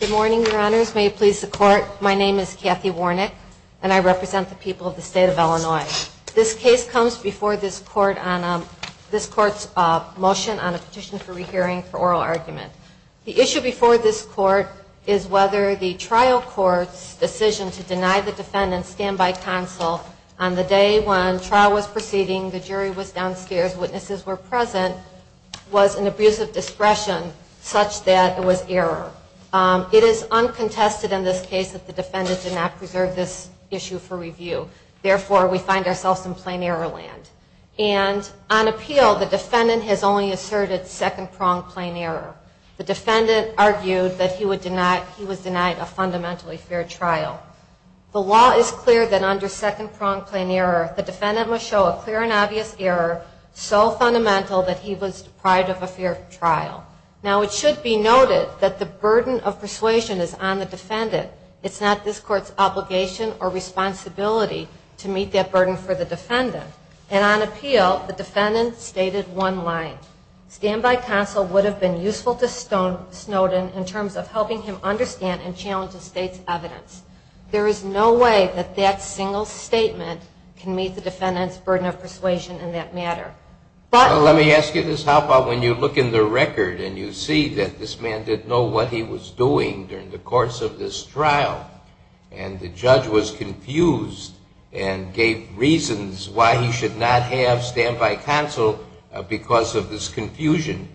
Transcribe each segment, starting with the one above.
Good morning, your honors. May it please the court, my name is Kathy Warnick and I represent the people of the state of Illinois. This case comes before this court on this court's motion on a petition for rehearing for oral argument. The issue before this court is whether the trial court's decision to deny the defendant's standby counsel on the day when trial was proceeding, the jury was downstairs, witnesses were present, was an abuse of discretion such that it was erroneous. It is uncontested in this case that the defendant did not preserve this issue for review. Therefore, we find ourselves in plain error land. And on appeal, the defendant has only asserted second-pronged plain error. The defendant argued that he was denied a fundamentally fair trial. The law is clear that under second-pronged plain error, the defendant must show a clear and obvious error so fundamental that he was deprived of a fair trial. Now, it should be noted that the burden of persuasion is on the defendant. It's not this court's obligation or responsibility to meet that burden for the defendant. And on appeal, the defendant stated one line. Standby counsel would have been useful to Snowden in terms of helping him understand and challenge the state's evidence. There is no way that that single statement can meet the defendant's burden of persuasion in that matter. Let me ask you this. How about when you look in the record and you see that this man didn't know what he was doing during the course of this trial, and the judge was confused and gave reasons why he should not have standby counsel because of this confusion.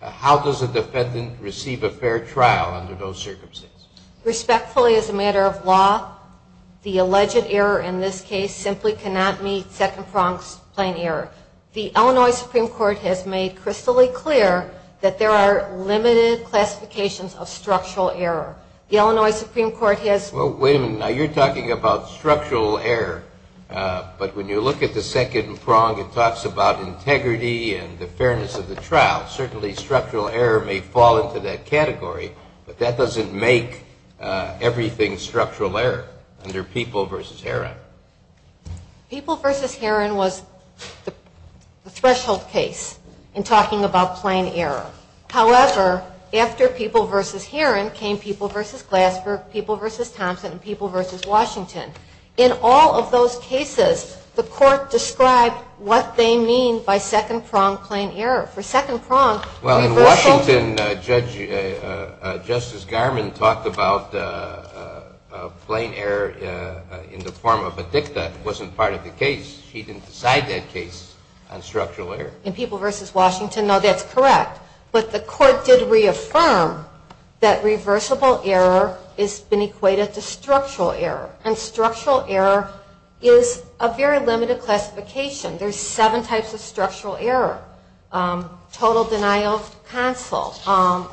How does a defendant receive a fair trial under those circumstances? Respectfully, as a matter of law, the alleged error in this case simply cannot meet second-pronged plain error. The Illinois Supreme Court has made crystal clear that there are limited classifications of structural error. The Illinois Supreme Court has... Well, wait a minute. Now, you're talking about structural error, but when you look at the second prong, it talks about integrity and the fairness of the trial. Certainly, structural error may fall into that category, but that doesn't make everything structural error under People v. Herron. People v. Herron was the threshold case in talking about plain error. However, after People v. Herron came People v. Glassburg, People v. Thompson, and People v. Washington. In all of those cases, the court described what they mean by second-pronged plain error. For second-pronged... ...wasn't part of the case. He didn't decide that case on structural error. In People v. Washington, no, that's correct. But the court did reaffirm that reversible error has been equated to structural error, and structural error is a very limited classification. There's seven types of structural error. Total denial of counsel,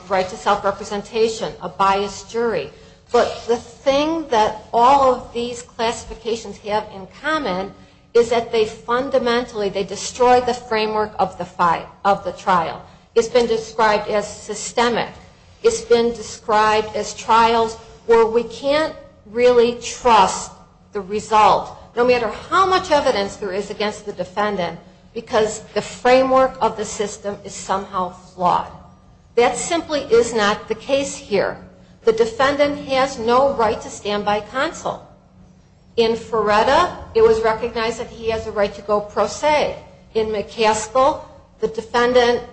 right to self-representation, a biased jury. But the thing that all of these classifications have in common is that there's a very limited classification of structural error. But the thing that all of these classifications have in common is that they fundamentally, they destroy the framework of the trial. It's been described as systemic. It's been described as trials where we can't really trust the result, no matter how much evidence there is against the defendant, because the framework of the system is somehow flawed. That simply is not the case here. The defendant has no right to standby counsel. In Feretta, it was recognized that he has a right to go pro se. In McCaskill, the defendant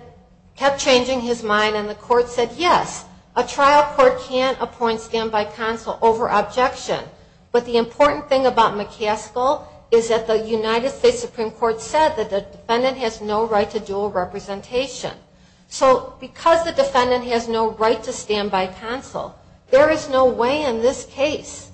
kept changing his mind, and the court said, yes, a trial court can't appoint standby counsel over objection. But the important thing about McCaskill is that the United States Supreme Court said that the defendant has no right to dual representation. So because the defendant has no right to standby counsel, there is no way in this case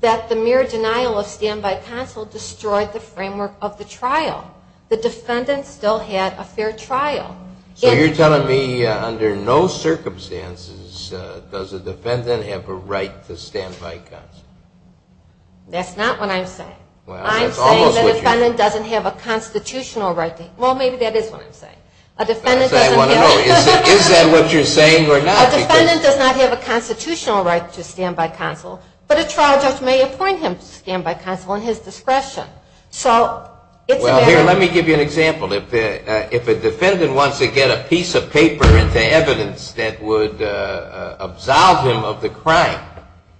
that the mere denial of standby counsel destroyed the framework of the trial. The defendant still had a fair trial. So you're telling me under no circumstances does a defendant have a right to standby counsel? That's not what I'm saying. I'm saying the defendant doesn't have a constitutional right. Well, maybe that is what I'm saying. Is that what you're saying or not? A defendant does not have a constitutional right to standby counsel, but a trial judge may appoint him to standby counsel at his discretion. Well, here, let me give you an example. If a defendant wants to get a piece of paper into evidence that would absolve him of the crime,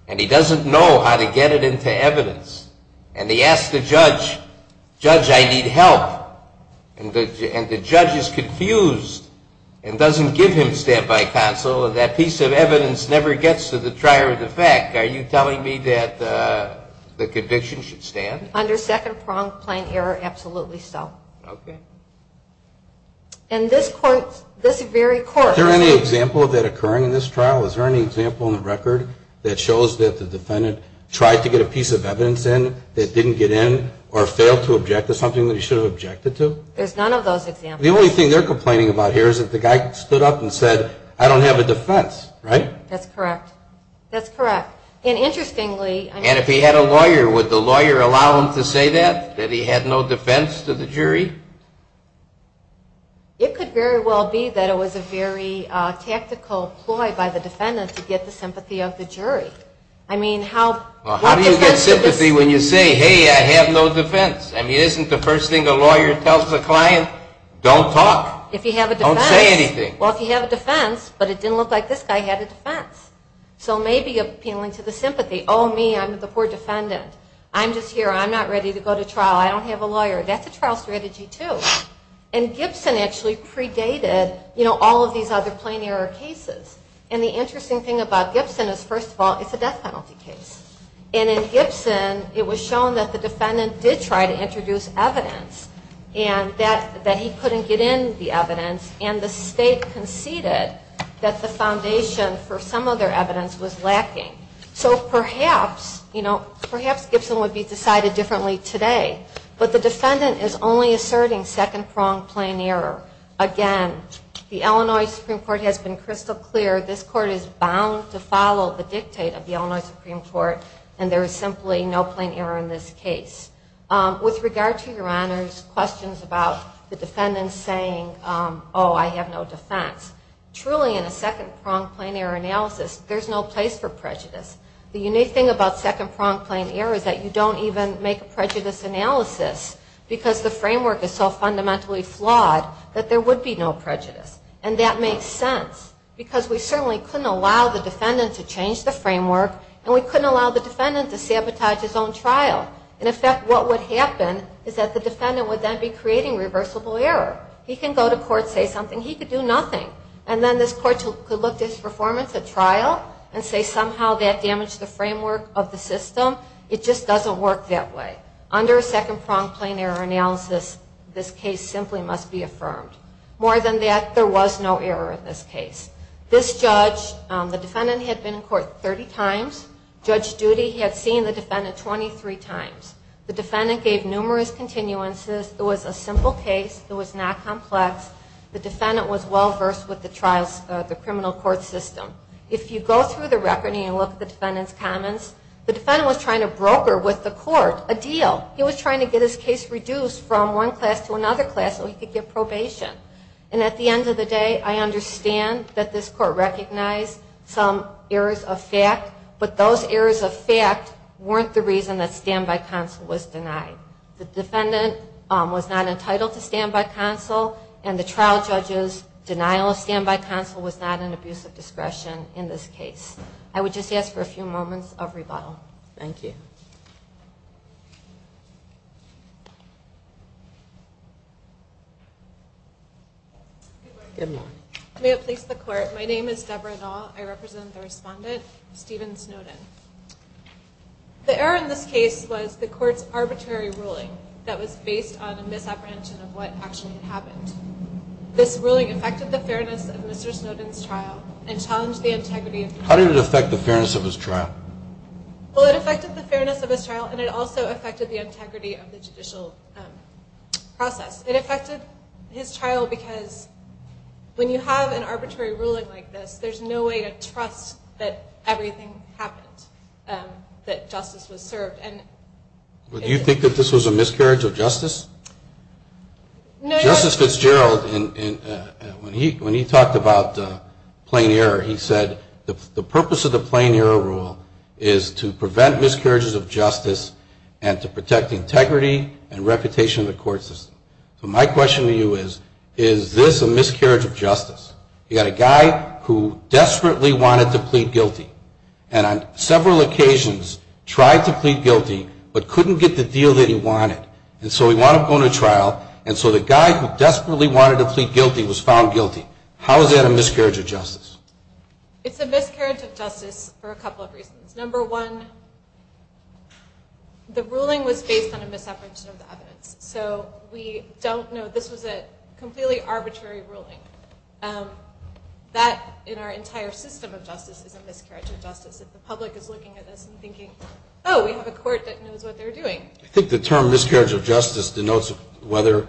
and he doesn't know how to get it into evidence, and he asks the judge, judge, I need help, and the judge is confused and doesn't give him standby counsel, that piece of evidence never gets to the trier of the fact, are you telling me that the conviction should stand? Under second-pronged plain error, absolutely so. Okay. And this court, this very court Is there any example of that occurring in this trial? Is there any example on the record that shows that the defendant tried to get a piece of evidence in that didn't get in or failed to object to something that he should have objected to? There's none of those examples. The only thing they're complaining about here is that the guy stood up and said, I don't have a defense, right? That's correct. That's correct. And interestingly And if he had a lawyer, would the lawyer allow him to say that, that he had no defense to the jury? It could very well be that it was a very tactical ploy by the defendant to get the sympathy of the jury. I mean, how Well, how do you get sympathy when you say, hey, I have no defense? I mean, isn't the first thing a lawyer tells the client, don't talk? If you have a defense Don't say anything Well, if you have a defense, but it didn't look like this guy had a defense. So maybe appealing to the sympathy. Oh, me, I'm the poor defendant. I'm just here. I'm not ready to go to trial. I don't have a lawyer. That's a trial strategy, too. And Gibson actually predated, you know, all of these other plain error cases. And the interesting thing about Gibson is, first of all, it's a death penalty case. And in Gibson, it was shown that the defendant did try to introduce evidence, and that he couldn't get in the evidence, and the state conceded that the foundation for some other evidence was lacking. So perhaps, you know, perhaps Gibson would be decided differently today. But the defendant is only asserting second-pronged plain error. Again, the Illinois Supreme Court has been crystal clear. This court is bound to follow the dictate of the Illinois Supreme Court, and there is simply no plain error in this case. With regard to Your Honor's questions about the defendant saying, oh, I have no defense, truly, in a second-pronged plain error analysis, there's no place for prejudice. The unique thing about second-pronged plain error is that you don't even make a prejudice analysis, because the framework is so fundamentally flawed that there would be no prejudice. And that makes sense, because we certainly couldn't allow the defendant to change the framework, and we couldn't allow the defendant to sabotage his own trial. In effect, what would happen is that the defendant would then be creating reversible error. He can go to court, say something. He could do nothing. And then this court could look at his performance at trial and say somehow that damaged the framework of the system. It just doesn't work that way. Under a second-pronged plain error analysis, this case simply must be affirmed. More than that, there was no error in this case. This judge, the defendant had been in court 30 times. Judge Judy had seen the defendant 23 times. The defendant gave numerous continuances. It was a simple case. It was not complex. The defendant was well-versed with the criminal court system. If you go through the record and you look at the defendant's comments, the defendant was trying to broker with the court a deal. He was trying to get his case reduced from one class to another class so he could get probation. And at the end of the day, I understand that this court recognized some errors of fact, but those errors of fact weren't the reason that standby counsel was denied. The defendant was not entitled to standby counsel, and the trial judge's denial of standby counsel was not an abuse of discretion in this case. I would just ask for a few moments of rebuttal. Thank you. Good morning. May it please the court, my name is Debra Nall. I represent the respondent, Stephen Snowden. The error in this case was the court's arbitrary ruling that was based on a misapprehension of what actually had happened. This ruling affected the fairness of Mr. Snowden's trial and challenged the integrity of the trial. Well, it affected the fairness of his trial and it also affected the integrity of the judicial process. It affected his trial because when you have an arbitrary ruling like this, there's no way to trust that everything happened, that justice was served. Do you think that this was a miscarriage of justice? Justice Fitzgerald, when he talked about plain error, he said the purpose of the plain error rule is to prevent miscarriages of justice and to protect integrity and reputation of the court system. So my question to you is, is this a miscarriage of justice? You've got a guy who desperately wanted to plead guilty and on several occasions tried to plead guilty but couldn't get the deal that he wanted. And so he wound up going to trial and so the guy who desperately wanted to plead guilty was found guilty. How is that a miscarriage of justice? It's a miscarriage of justice for a couple of reasons. Number one, the ruling was based on a misapprehension of the evidence. So we don't know. This was a completely arbitrary ruling. That, in our entire system of justice, is a miscarriage of justice. If the public is looking at this and thinking, oh, we have a court that knows what they're doing. I think the term miscarriage of justice denotes whether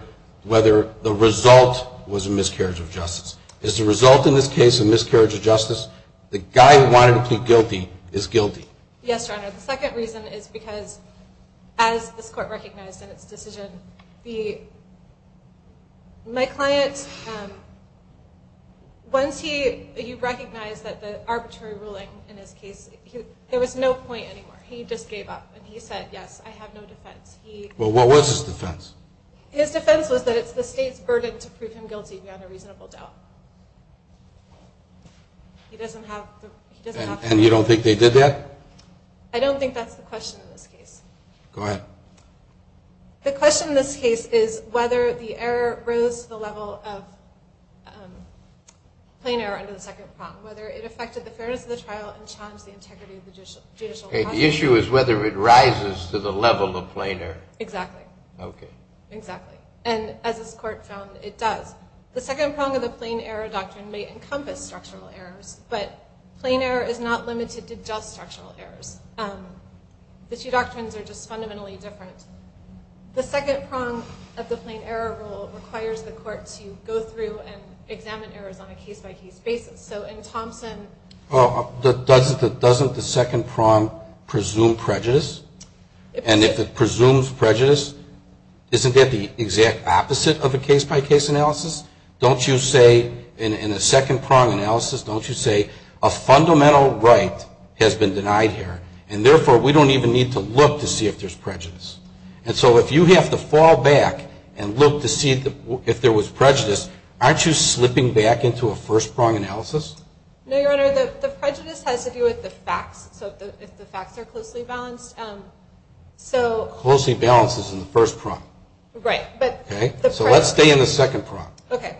the result was a miscarriage of justice. Is the result in this case a miscarriage of justice? The guy who wanted to plead guilty is guilty. Yes, Your Honor. The second reason is because, as this Court recognized in its decision, my client, once he recognized that the arbitrary ruling in his case, there was no point anymore. He just gave up. And he said, yes, I have no defense. Well, what was his defense? His defense was that it's the state's burden to prove him guilty beyond a reasonable doubt. He doesn't have to. And you don't think they did that? I don't think that's the question in this case. Go ahead. The question in this case is whether the error rose to the level of plain error under the second prompt, whether it affected the fairness of the trial and challenged the integrity of the judicial process. Okay. The issue is whether it rises to the level of plain error. Exactly. Okay. Exactly. And as this Court found, it does. The second prompt of the plain error doctrine may encompass structural errors, but plain error is not limited to just structural errors. The two doctrines are just fundamentally different. The second prompt of the plain error rule requires the Court to go through and examine errors on a case-by-case basis. Well, doesn't the second prompt presume prejudice? And if it presumes prejudice, isn't that the exact opposite of a case-by-case analysis? Don't you say in a second prompt analysis, don't you say a fundamental right has been denied here, and therefore we don't even need to look to see if there's prejudice? And so if you have to fall back and look to see if there was prejudice, aren't you slipping back into a first prompt analysis? No, Your Honor. The prejudice has to do with the facts, so if the facts are closely balanced. Closely balanced is in the first prompt. Right. So let's stay in the second prompt. Okay.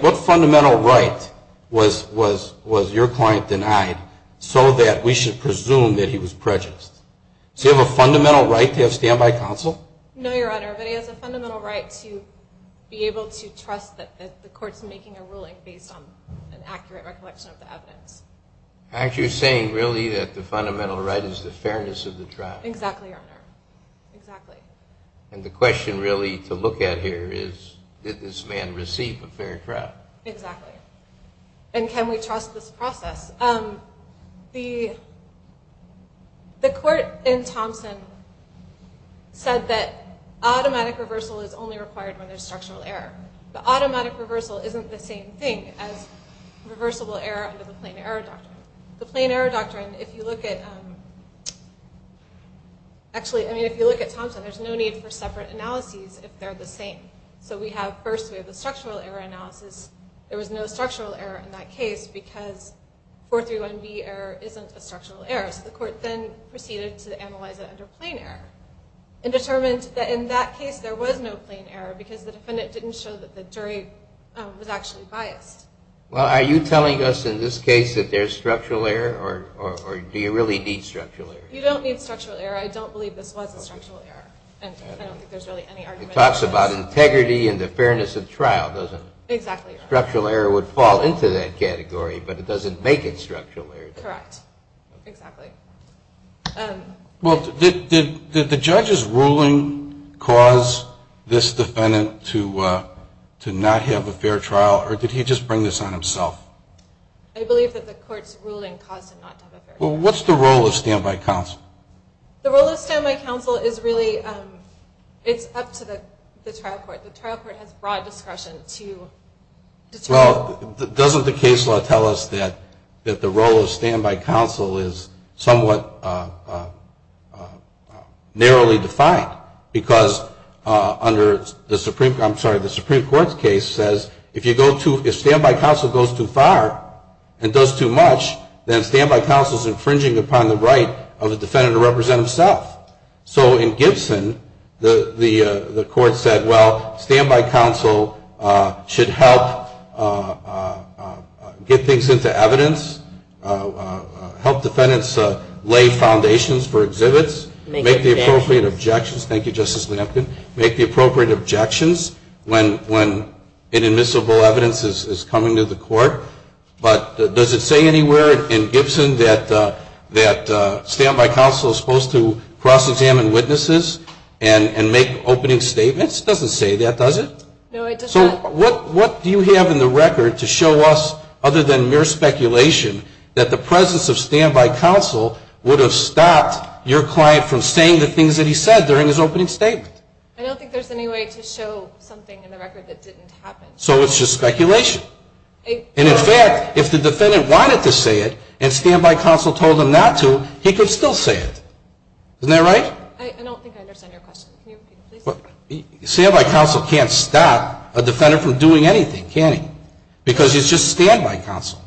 What fundamental right was your client denied so that we should presume that he was prejudiced? Does he have a fundamental right to have standby counsel? No, Your Honor, but he has a fundamental right to be able to trust that the Court's making a ruling based on an accurate recollection of the evidence. Actually, you're saying really that the fundamental right is the fairness of the trial. Exactly, Your Honor. Exactly. And the question really to look at here is did this man receive a fair trial? Exactly. And can we trust this process? The Court in Thompson said that automatic reversal is only required when there's structural error. But automatic reversal isn't the same thing as reversible error under the Plain Error Doctrine. The Plain Error Doctrine, if you look at Thompson, there's no need for separate analyses if they're the same. So first we have the structural error analysis. There was no structural error in that case because 431B error isn't a structural error. So the Court then proceeded to analyze it under Plain Error and determined that in that case there was no Plain Error because the defendant didn't show that the jury was actually biased. Well, are you telling us in this case that there's structural error, or do you really need structural error? You don't need structural error. I don't believe this was a structural error, and I don't think there's really any argument about this. It talks about integrity and the fairness of trial, doesn't it? Exactly. Structural error would fall into that category, but it doesn't make it structural error. Correct. Exactly. Well, did the judge's ruling cause this defendant to not have a fair trial, or did he just bring this on himself? I believe that the Court's ruling caused him not to have a fair trial. Well, what's the role of standby counsel? The role of standby counsel is really up to the trial court. The trial court has broad discretion to determine. Well, doesn't the case law tell us that the role of standby counsel is somewhat narrowly defined? Because under the Supreme Court's case, if standby counsel goes too far and does too much, then standby counsel is infringing upon the right of the defendant to represent himself. So in Gibson, the Court said, well, standby counsel should help get things into evidence, help defendants lay foundations for exhibits, make the appropriate objections. Thank you, Justice Lampkin. Make the appropriate objections when inadmissible evidence is coming to the Court. But does it say anywhere in Gibson that standby counsel is supposed to cross-examine witnesses and make opening statements? It doesn't say that, does it? No, it does not. So what do you have in the record to show us, other than mere speculation, that the presence of standby counsel would have stopped your client from saying the things that he said during his opening statement? I don't think there's any way to show something in the record that didn't happen. So it's just speculation. And in fact, if the defendant wanted to say it and standby counsel told him not to, he could still say it. Isn't that right? I don't think I understand your question. Standby counsel can't stop a defendant from doing anything, can he? Because it's just standby counsel.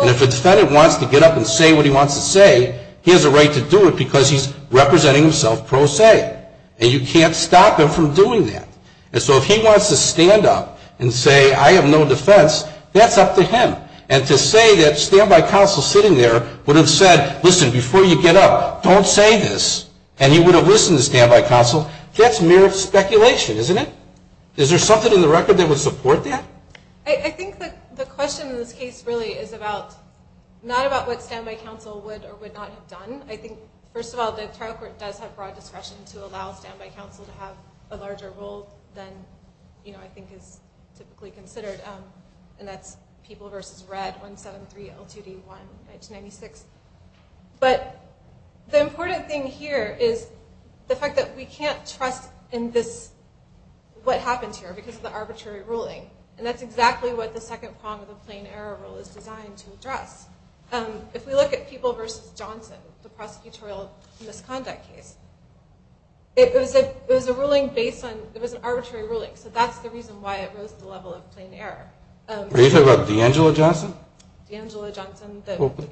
And if a defendant wants to get up and say what he wants to say, he has a right to do it because he's representing himself pro se. And you can't stop him from doing that. And so if he wants to stand up and say, I have no defense, that's up to him. And to say that standby counsel sitting there would have said, listen, before you get up, don't say this, and he would have listened to standby counsel, that's mere speculation, isn't it? Is there something in the record that would support that? I think the question in this case really is not about what standby counsel would or would not have done. I think, first of all, the trial court does have broad discretion to allow standby counsel to have a larger role than, you know, I think is typically considered. And that's People v. Red, 173L2D1, 1996. But the important thing here is the fact that we can't trust in this what happens here because of the arbitrary ruling. And that's exactly what the second prong of the plain error rule is designed to address. If we look at People v. Johnson, the prosecutorial misconduct case, it was an arbitrary ruling. So that's the reason why it rose to the level of plain error. Are you talking about D'Angelo Johnson? D'Angelo Johnson.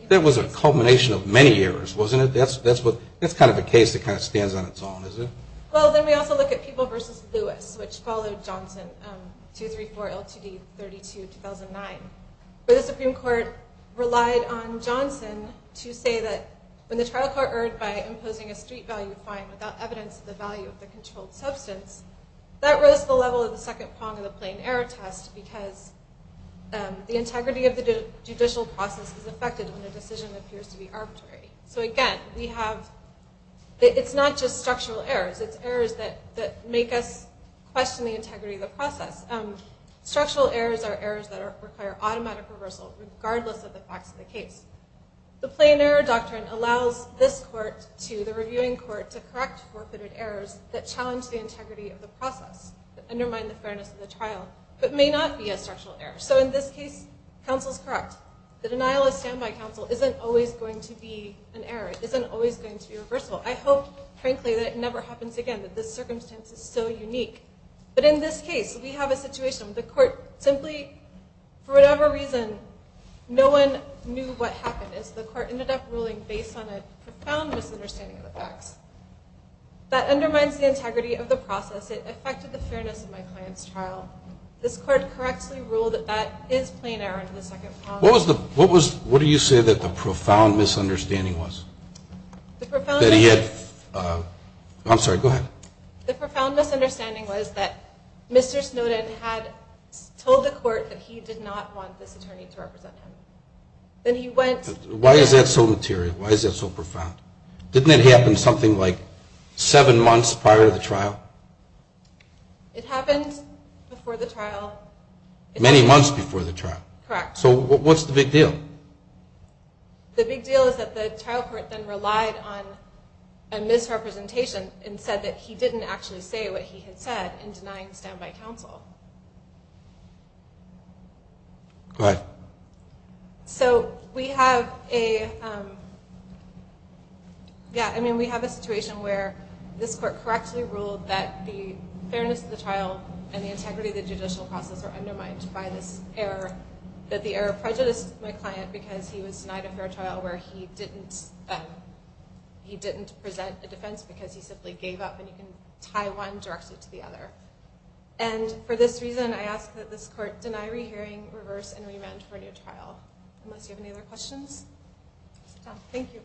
That was a culmination of many errors, wasn't it? That's kind of a case that kind of stands on its own, isn't it? Well, then we also look at People v. Lewis, which followed Johnson, 234L2D32, 2009. But the Supreme Court relied on Johnson to say that when the trial court erred by imposing a street value fine without evidence of the value of the controlled substance, that rose to the level of the second prong of the plain error test because the integrity of the judicial process is affected when the decision appears to be arbitrary. So, again, we have – it's not just structural errors. It's errors that make us question the integrity of the process. Structural errors are errors that require automatic reversal regardless of the facts of the case. The plain error doctrine allows this court to, the reviewing court, to correct forfeited errors that challenge the integrity of the process, that undermine the fairness of the trial, but may not be a structural error. So in this case, counsel's correct. The denial of standby counsel isn't always going to be an error. It isn't always going to be reversible. I hope, frankly, that it never happens again, that this circumstance is so unique. But in this case, we have a situation where the court simply, for whatever reason, no one knew what happened. The court ended up ruling based on a profound misunderstanding of the facts. That undermines the integrity of the process. It affected the fairness of my client's trial. This court correctly ruled that that is plain error under the second prong. What was the – what do you say that the profound misunderstanding was? The profound – That he had – I'm sorry, go ahead. The profound misunderstanding was that Mr. Snowden had told the court that he did not want this attorney to represent him. Then he went – Why is that so material? Why is that so profound? Didn't it happen something like seven months prior to the trial? It happened before the trial. Many months before the trial. Correct. So what's the big deal? The big deal is that the trial court then relied on a misrepresentation and said that he didn't actually say what he had said in denying standby counsel. Go ahead. So we have a – yeah, I mean, we have a situation where this court correctly ruled that the fairness of the trial and the integrity of the judicial process are undermined by this error, that the error prejudiced my client because he was denied a fair trial where he didn't present a defense because he simply gave up and you can tie one directly to the other. And for this reason, I ask that this court deny rehearing, reverse, and remand for a new trial. Unless you have any other questions. Thank you.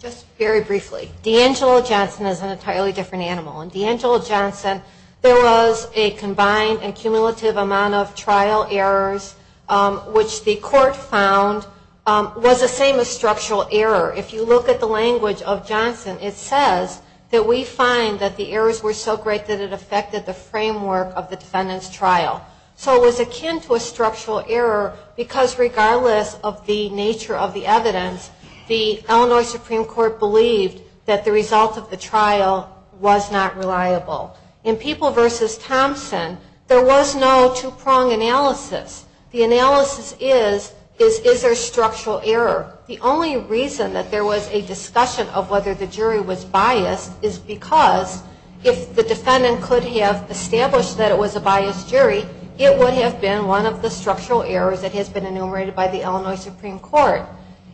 Just very briefly, D'Angelo Johnson is an entirely different animal. In D'Angelo Johnson, there was a combined and cumulative amount of trial errors which the court found was the same as structural error. If you look at the language of Johnson, it says that we find that the errors were so great that it affected the framework of the defendant's trial. So it was akin to a structural error because regardless of the nature of the evidence, the Illinois Supreme Court believed that the result of the trial was not reliable. In People v. Thompson, there was no two-prong analysis. The analysis is, is there structural error? The only reason that there was a discussion of whether the jury was biased is because if the defendant could have established that it was a biased jury, it would have been one of the structural errors that has been enumerated by the Illinois Supreme Court.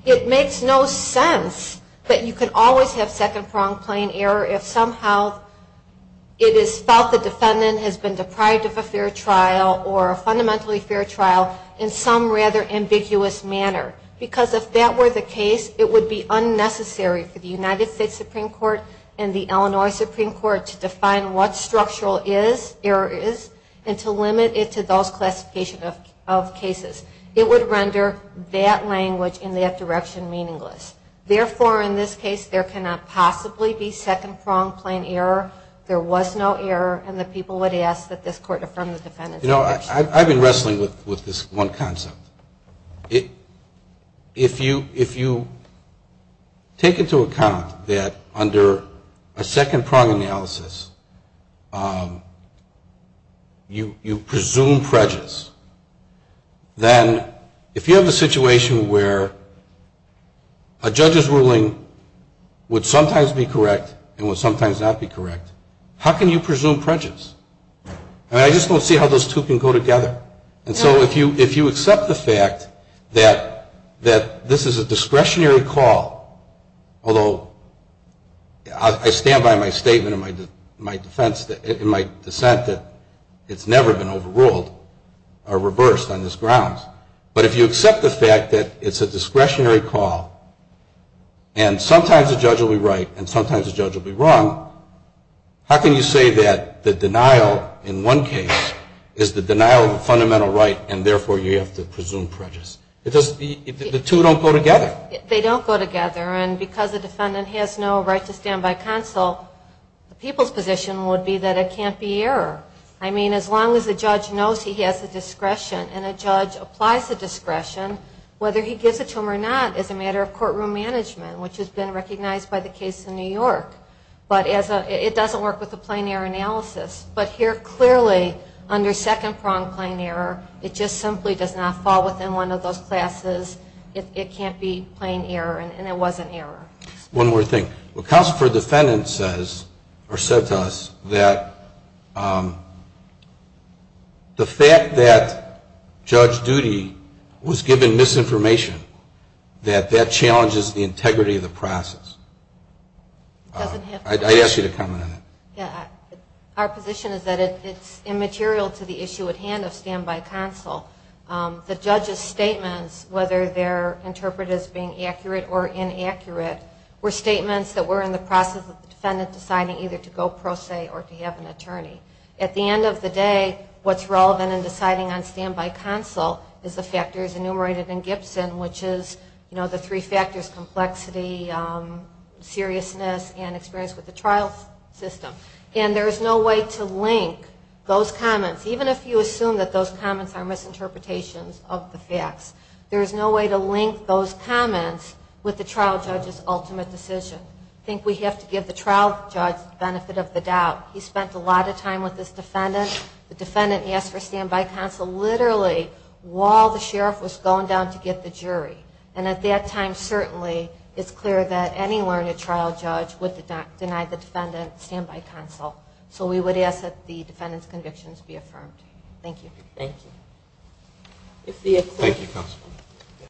It makes no sense that you can always have second-pronged plain error if somehow it is felt the defendant has been deprived of a fair trial or a fundamentally fair trial in some rather ambiguous manner. Because if that were the case, it would be unnecessary for the United States Supreme Court and the Illinois Supreme Court to define what structural error is and to limit it to those classification of cases. It would render that language in that direction meaningless. Therefore, in this case, there cannot possibly be second-pronged plain error. There was no error, and the people would ask that this Court affirm the defendant's objection. You know, I've been wrestling with this one concept. If you take into account that under a second-pronged analysis, you presume prejudice, then if you have a situation where a judge's ruling would sometimes be correct and would sometimes not be correct, how can you presume prejudice? I mean, I just don't see how those two can go together. And so if you accept the fact that this is a discretionary call, although I stand by my statement and my defense and my dissent that it's never been overruled or reversed on this grounds, but if you accept the fact that it's a discretionary call and sometimes a judge will be right and sometimes a judge will be wrong, how can you say that the denial in one case is the denial of a fundamental right and therefore you have to presume prejudice? The two don't go together. They don't go together, and because the defendant has no right to stand by counsel, the people's position would be that it can't be error. I mean, as long as the judge knows he has the discretion and a judge applies the discretion, whether he gives it to him or not is a matter of courtroom management, which has been recognized by the case in New York. But it doesn't work with a plain error analysis. But here, clearly, under second-pronged plain error, it just simply does not fall within one of those classes. It can't be plain error, and it wasn't error. One more thing. What counsel for defendants says, or said to us, that the fact that Judge Doody was given misinformation, that that challenges the integrity of the process. It doesn't have to. I'd ask you to comment on that. Our position is that it's immaterial to the issue at hand of stand-by counsel. The judge's statements, whether they're interpreted as being accurate or inaccurate, were statements that were in the process of the defendant deciding either to go pro se or to have an attorney. At the end of the day, what's relevant in deciding on stand-by counsel is the factors enumerated in Gibson, which is the three factors, complexity, seriousness, and experience with the trial system. And there is no way to link those comments. Even if you assume that those comments are misinterpretations of the facts, there is no way to link those comments with the trial judge's ultimate decision. I think we have to give the trial judge the benefit of the doubt. He spent a lot of time with his defendant. The defendant asked for stand-by counsel literally while the sheriff was going down to get the jury. And at that time, certainly, it's clear that any learned trial judge would deny the defendant stand-by counsel. So we would ask that the defendant's convictions be affirmed. Thank you. Thank you. Thank you, counsel.